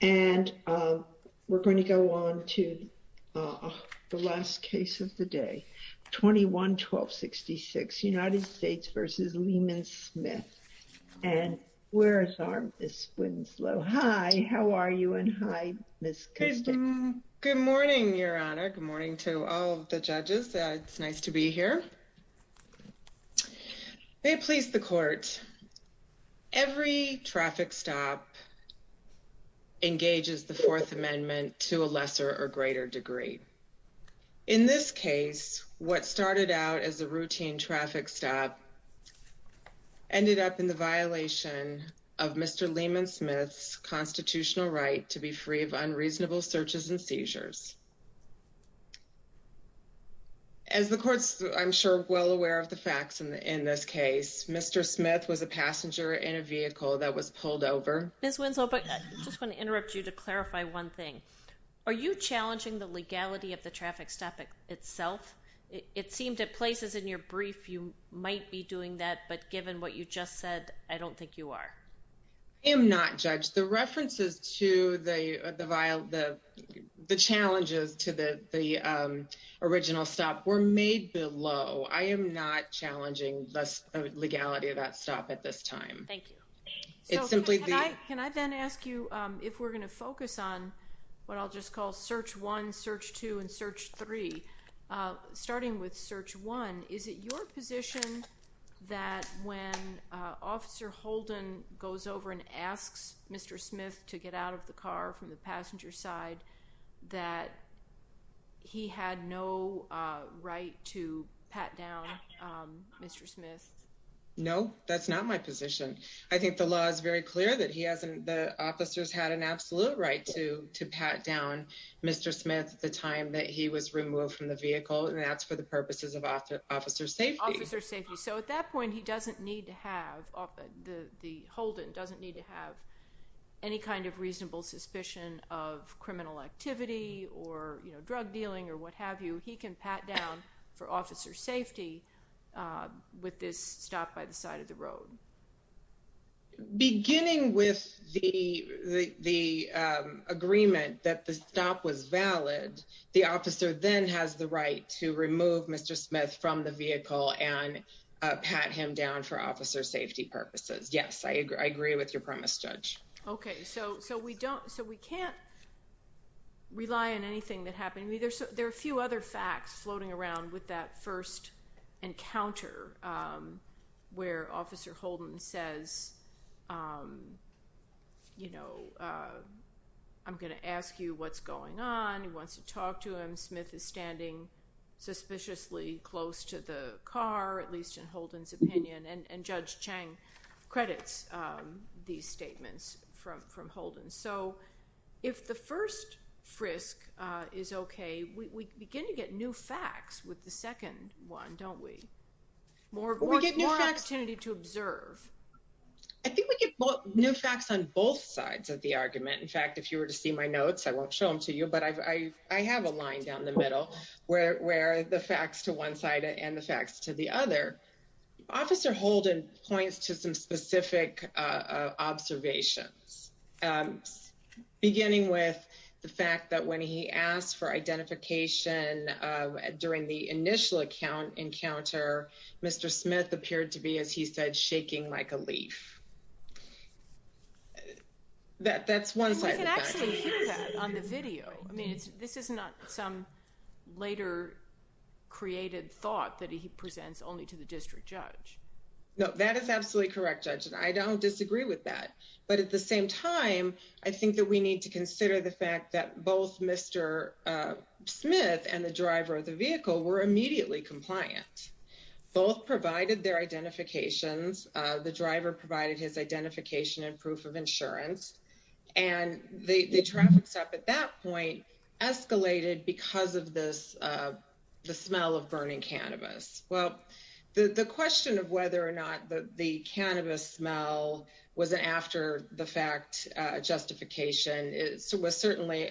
and we're going to go on to the last case of the day 21 1266 United States v. Leamon Smith and where is our Miss Winslow? Hi how are you and hi Miss Good morning Your Honor, good morning to all the judges it's nice to be here May it please the court, every traffic stop engages the Fourth Amendment to a lesser or greater degree. In this case what started out as a routine traffic stop ended up in the violation of Mr. Leamon Smith's constitutional right to be free of unreasonable searches and seizures. As the courts I'm sure well aware of the facts in this case Mr. Smith was a passenger in a vehicle that was pulled over. Miss Winslow but I just want to interrupt you to clarify one thing. Are you challenging the legality of the traffic stop itself? It seemed at places in your brief you might be doing that but given what you just said I don't think you are. I am not judge the references to the the vial the the challenges to the the original stop were made below. I am not challenging less legality of that stop at this time. Thank you. It's simply. Can I then ask you if we're gonna focus on what I'll just call search one search two and search three starting with search one is it your position that when officer Holden goes over and asks Mr. Smith to get out of the car from the passenger side that he had no right to pat down Mr. Smith? No that's not my position. I think the law is very clear that he hasn't the officers had an absolute right to to pat down Mr. Smith at the time that he was removed from the vehicle and that's for the purposes of officer safety. Officer safety so at that point he doesn't need to have the Holden doesn't need to have any kind of reasonable suspicion of criminal activity or you know drug dealing or what have you he can pat down for officer safety with this stop by the side of the road. Beginning with the the agreement that the stop was valid the officer then has the right to remove Mr. Smith from the vehicle and pat him down for officer safety purposes. Yes I agree I agree with your premise judge. Okay so so we don't so we can't rely on anything that happened either so there are a few other facts floating around with that first encounter where officer Holden says you know I'm gonna ask you what's going on he wants to talk to him Smith is standing suspiciously close to the car at least in Holden's opinion and and judge Chang credits these statements from from Holden so if the first frisk is okay we begin to get new facts with the second one don't we more we get more opportunity to observe I think we get new facts on both sides of the argument in fact if you were to see my notes I won't show them to you but I have a line down the middle where the facts to one side and the facts to the other officer Holden points to some specific observations beginning with the fact that when he asked for initial account encounter mr. Smith appeared to be as he said shaking like a leaf that that's one side on the video I mean it's this is not some later created thought that he presents only to the district judge no that is absolutely correct judge and I don't disagree with that but at the same time I think that we need to consider the fact that both mr. Smith and the driver of the vehicle were immediately compliant both provided their identifications the driver provided his identification and proof of insurance and they traffic stop at that point escalated because of this the smell of burning cannabis well the the question of whether or not that the cannabis smell wasn't after the fact justification it was certainly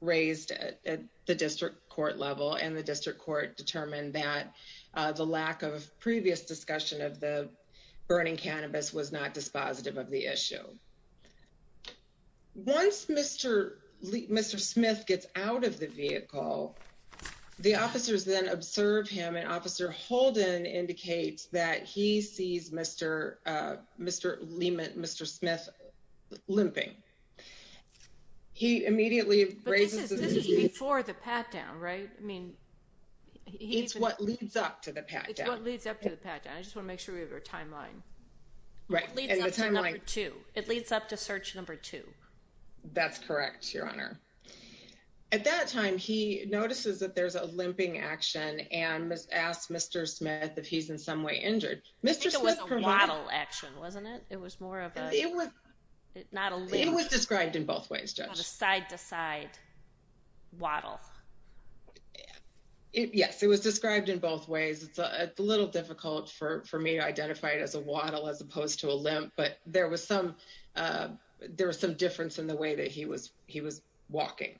raised at the district court level and the district court determined that the lack of previous discussion of the burning cannabis was not dispositive of the issue once mr. Lee mr. Smith gets out of the vehicle the officers then observe him and officer Holden indicates that he sees mr. mr. Lehman mr. Smith limping he immediately before the pat-down right I it's what leads up to the pat-down leads up to the pat-down I just wanna make sure we have our timeline right at the time I like to it leads up to search number two that's correct your honor at that time he notices that there's a limping action and was asked mr. Smith if he's in some way injured mr. Smith model action wasn't it it was more of it was it not only was described in both ways judge side-to-side waddle yes it was described in both ways it's a little difficult for me to identify it as a waddle as opposed to a limp but there was some there was some difference in the way that he was he was walking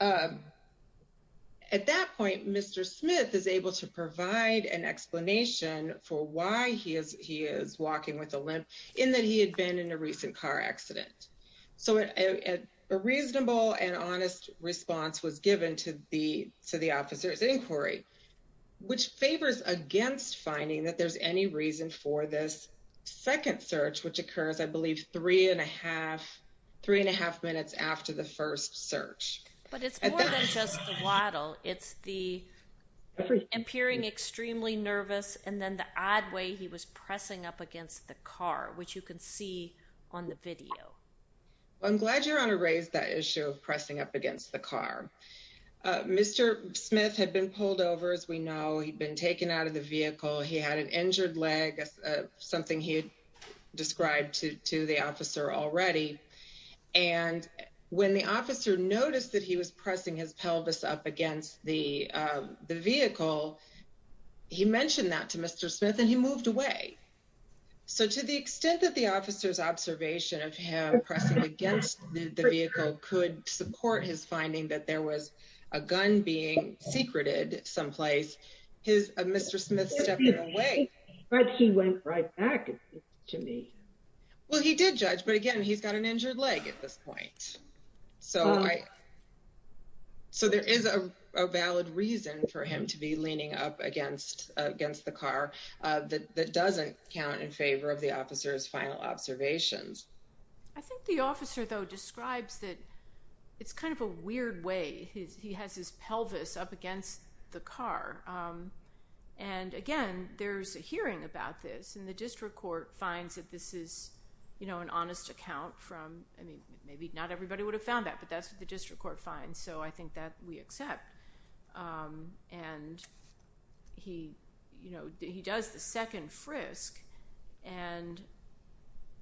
at that point mr. Smith is able to provide an explanation for why he is he is so a reasonable and honest response was given to the to the officers inquiry which favors against finding that there's any reason for this second search which occurs I believe three and a half three and a half minutes after the first search it's the appearing extremely nervous and then the odd way he was pressing up against the car which you can see on the video I'm glad you're on a raised that issue of pressing up against the car mr. Smith had been pulled over as we know he'd been taken out of the vehicle he had an injured leg something he had described to the officer already and when the officer noticed that he was pressing his pelvis up against the the vehicle he moved away so to the extent that the officer's observation of him pressing against the vehicle could support his finding that there was a gun being secreted someplace his mr. Smith to me well he did judge but again he's got an injured leg at this point so I so there is a valid reason for him to be leaning up against against the car that doesn't count in favor of the officers final observations I think the officer though describes that it's kind of a weird way he has his pelvis up against the car and again there's a hearing about this and the district court finds that this is you know an honest account from I mean maybe not everybody would have found that but that's what the district court so I think that we accept and he you know he does the second frisk and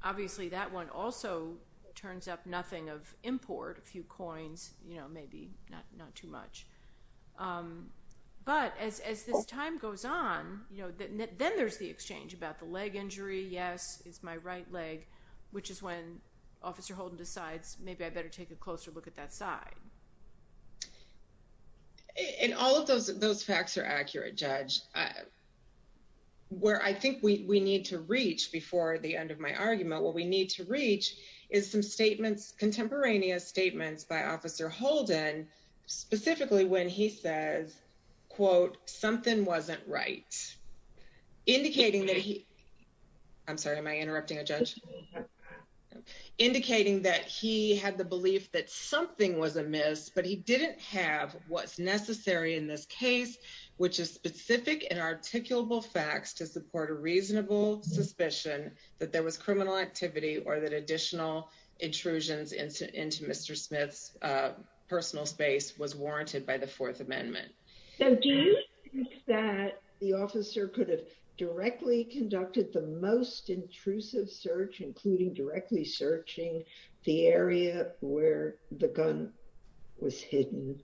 obviously that one also turns up nothing of import a few coins you know maybe not not too much but as this time goes on you know that then there's the exchange about the leg injury yes it's my right leg which is when officer Holden decides maybe I better take a closer look at that side and all of those those facts are accurate judge where I think we need to reach before the end of my argument what we need to reach is some statements contemporaneous statements by officer Holden specifically when he says quote something wasn't right indicating that I'm sorry am I interrupting a judge indicating that he had the belief that something was amiss but he didn't have what's necessary in this case which is specific and articulable facts to support a reasonable suspicion that there was criminal activity or that additional intrusions into into mr. Smith's personal space was warranted by the Fourth Amendment that the officer could have directly conducted the most intrusive search including directly searching the area where the gun was hidden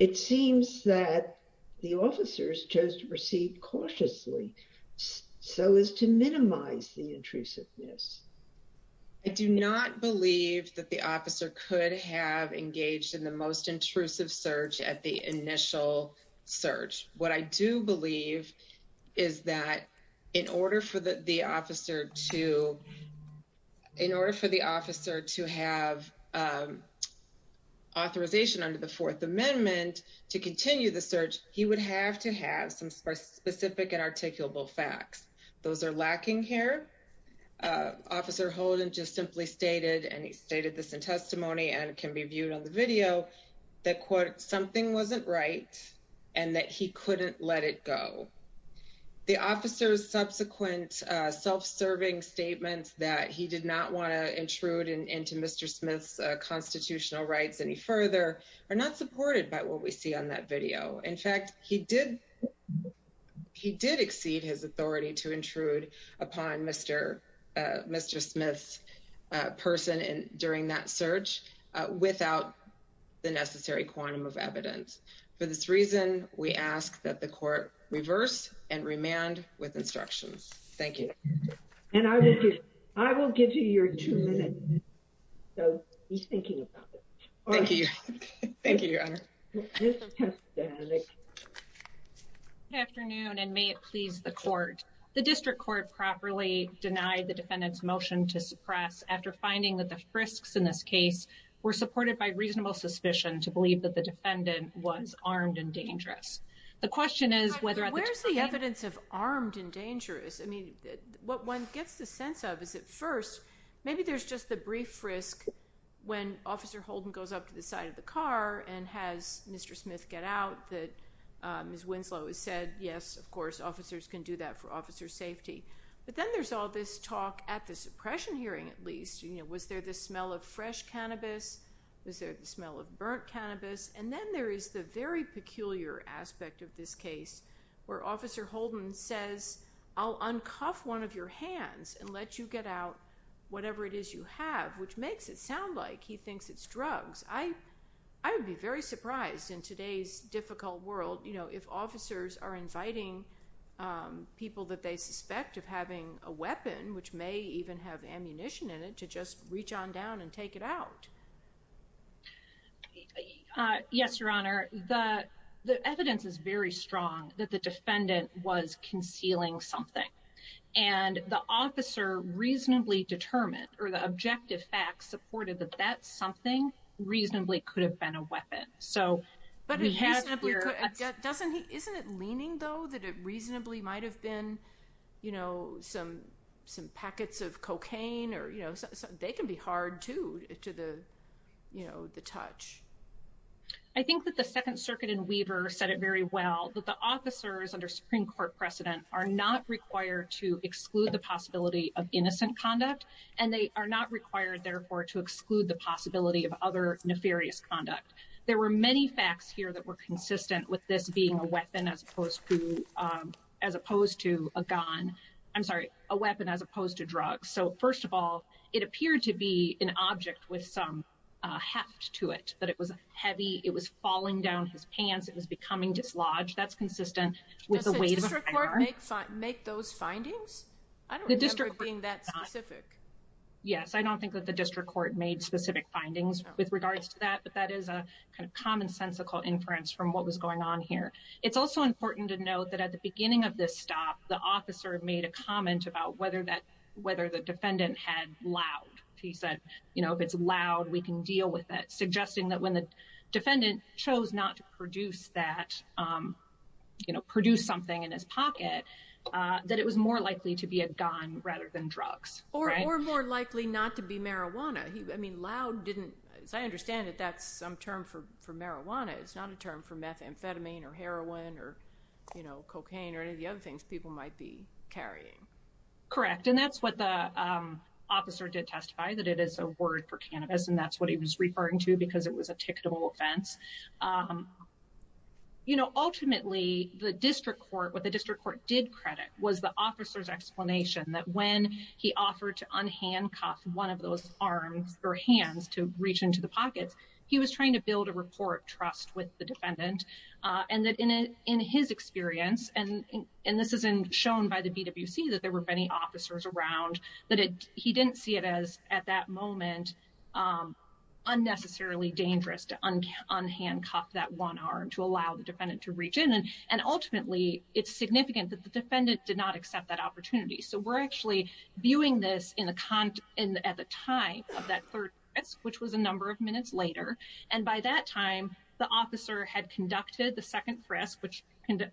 it seems that the officers chose to proceed cautiously so as to minimize the intrusiveness I do not believe that the officer could have engaged in the most intrusive search at the initial what I do believe is that in order for the officer to in order for the officer to have authorization under the Fourth Amendment to continue the search he would have to have some specific and articulable facts those are lacking here officer Holden just simply stated and he stated this in testimony and can be right and that he couldn't let it go the officers subsequent self-serving statements that he did not want to intrude into mr. Smith's constitutional rights any further are not supported by what we see on that video in fact he did he did exceed his authority to intrude upon mr. mr. Smith's person and during that search without the necessary quantum of evidence for this reason we ask that the court reverse and remand with instructions thank you and I will give you your two minutes so he's thinking about it thank you thank you your honor afternoon and may it please the court the district court properly denied the defendant's motion to suppress after finding that the frisks in this case were supported by reasonable suspicion to believe that the defendant was armed and dangerous the question is whether where's the evidence of armed and dangerous I mean what one gets the sense of is it first maybe there's just the brief risk when officer Holden goes up to the side of the car and has mr. Smith get out that miss Winslow has said yes of course officers can do that for officer safety but then there's all this talk at the suppression hearing at least you know was there this smell of fresh cannabis was there the smell of burnt cannabis and then there is the very peculiar aspect of this case where officer Holden says I'll uncuff one of your hands and let you get out whatever it is you have which makes it sound like he thinks it's drugs I I would be very surprised in today's difficult world you know if officers are people that they suspect of having a weapon which may even have ammunition in it to just reach on down and take it out yes your honor the the evidence is very strong that the defendant was concealing something and the officer reasonably determined or the objective facts supported that that's something reasonably could have been a weapon so but we have doesn't he isn't it leaning though that it reasonably might have been you know some some packets of cocaine or you know they can be hard to to the you know the touch I think that the Second Circuit in Weaver said it very well that the officers under Supreme Court precedent are not required to exclude the possibility of innocent conduct and they are not required therefore to exclude the possibility of other nefarious conduct there were many facts here that were consistent with this being a weapon as opposed to as opposed to a gun I'm sorry a weapon as opposed to drugs so first of all it appeared to be an object with some heft to it but it was heavy it was falling down his pants it was becoming dislodged that's consistent with the way to make those findings the district being that specific yes I don't think that the district court made specific findings with regards to that but that is a kind of commonsensical inference from what was going on here it's also important to note that at the beginning of this stop the officer made a comment about whether that whether the defendant had loud he said you know if it's loud we can deal with that suggesting that when the defendant chose not to produce that you know produce something in his pocket that it was more likely to be a gun rather than drugs or more likely not to be marijuana I mean loud didn't as I understand it that's some term for for amphetamine or heroin or you know cocaine or any of the other things people might be carrying correct and that's what the officer did testify that it is a word for cannabis and that's what he was referring to because it was a ticketable offense you know ultimately the district court what the district court did credit was the officer's explanation that when he offered to unhandcuff one of those arms or hands to reach into the pockets he was trying to report trust with the defendant and that in it in his experience and and this is in shown by the BWC that there were many officers around that it he didn't see it as at that moment unnecessarily dangerous to unhandcuff that one arm to allow the defendant to reach in and and ultimately it's significant that the defendant did not accept that opportunity so we're actually viewing this in the content at the time of that third which was a number of minutes later and by that time the officer had conducted the second press which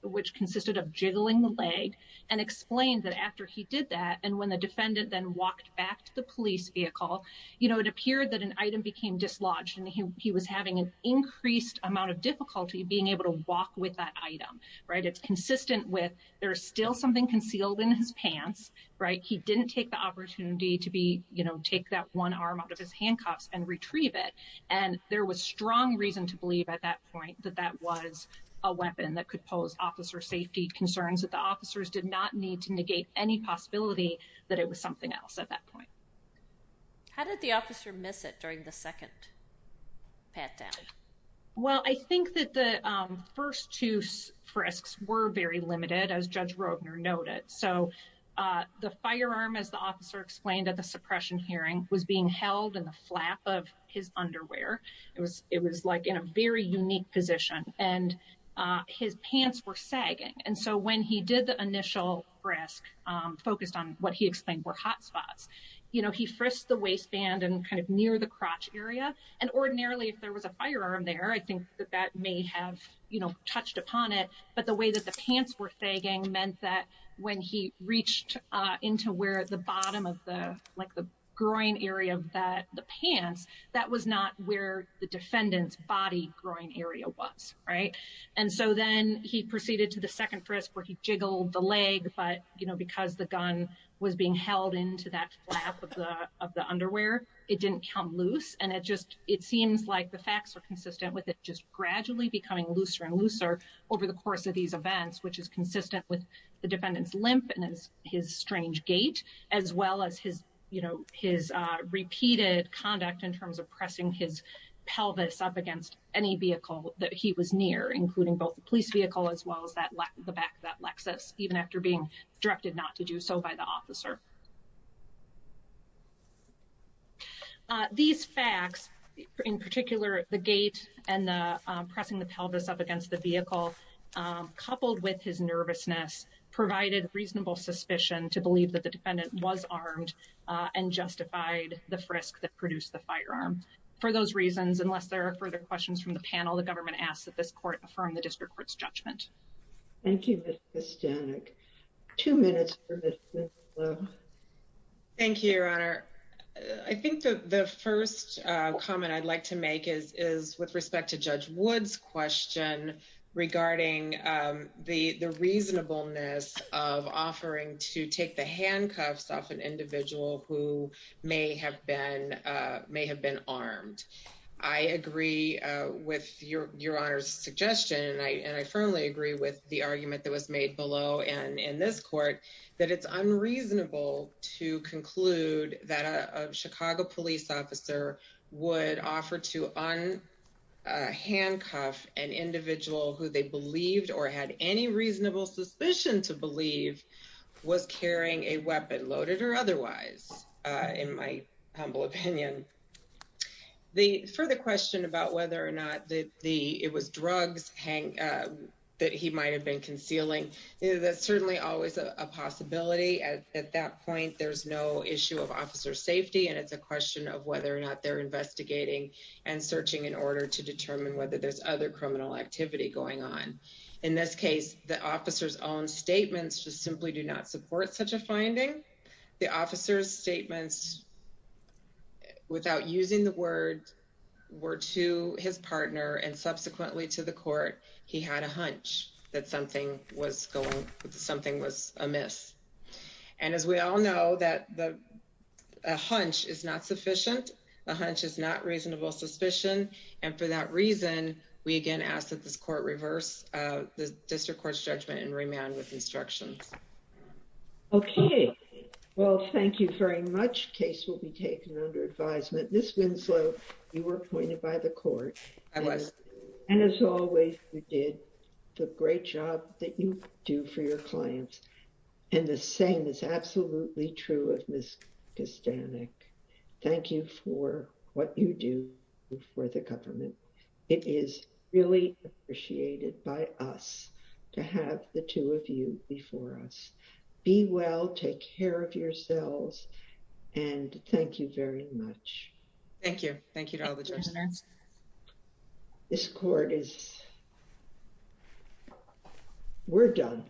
which consisted of jiggling the leg and explained that after he did that and when the defendant then walked back to the police vehicle you know it appeared that an item became dislodged and he was having an increased amount of difficulty being able to walk with that item right it's consistent with there's still something concealed in his pants right he didn't take the opportunity to be you and there was strong reason to believe at that point that that was a weapon that could pose officer safety concerns that the officers did not need to negate any possibility that it was something else at that point how did the officer miss it during the second pat down well I think that the first two frisks were very limited as judge Rogner noted so the firearm as the officer explained at suppression hearing was being held in the flap of his underwear it was it was like in a very unique position and his pants were sagging and so when he did the initial risk focused on what he explained were hot spots you know he frisked the waistband and kind of near the crotch area and ordinarily if there was a firearm there I think that that may have you know touched upon it but the way that the pants were sagging meant that when he reached into where the bottom of the like the groin area of that the pants that was not where the defendant's body groin area was right and so then he proceeded to the second frisk where he jiggled the leg but you know because the gun was being held into that flap of the of the underwear it didn't come loose and it just it seems like the facts are consistent with it just gradually becoming looser and looser over the course of these events which is consistent with the defendants limp and his strange gait as well as his you know his repeated conduct in terms of pressing his pelvis up against any vehicle that he was near including both the police vehicle as well as that left the back that Lexus even after being directed not to do so by the officer these facts in particular the gait and pressing the pelvis up against the reasonable suspicion to believe that the defendant was armed and justified the frisk that produced the firearm for those reasons unless there are further questions from the panel the government asks that this court from the district courts judgment thank you two minutes thank you your honor I think that the first comment I'd like to make is is with respect to judge woods question regarding the the reasonableness of offering to take the handcuffs off an individual who may have been may have been armed I agree with your your honor's suggestion and I firmly agree with the argument that was made below and in this court that it's unreasonable to conclude that a Chicago police officer would offer to unhandcuff an individual who they believed or had any reasonable suspicion to believe was carrying a weapon loaded or otherwise in my humble opinion the further question about whether or not that the it was drugs hang that he might have been concealing that's certainly always a possibility at that point there's no issue of officer safety and it's a question of whether or investigating and searching in order to determine whether there's other criminal activity going on in this case the officers own statements just simply do not support such a finding the officers statements without using the word were to his partner and subsequently to the court he had a hunch that something was going something was amiss and as we all know that the hunch is not sufficient a hunch is not reasonable suspicion and for that reason we again ask that this court reverse the district court's judgment and remand with instructions okay well thank you very much case will be taken under advisement miss Winslow you were appointed by the court unless and as always we did the great job that you do for your clients and the same is absolutely true of miss Castanek thank you for what you do for the government it is really appreciated by us to have the two of you before us be well take care of yourselves and thank you very much thank you thank you to all the jurors this court is we're done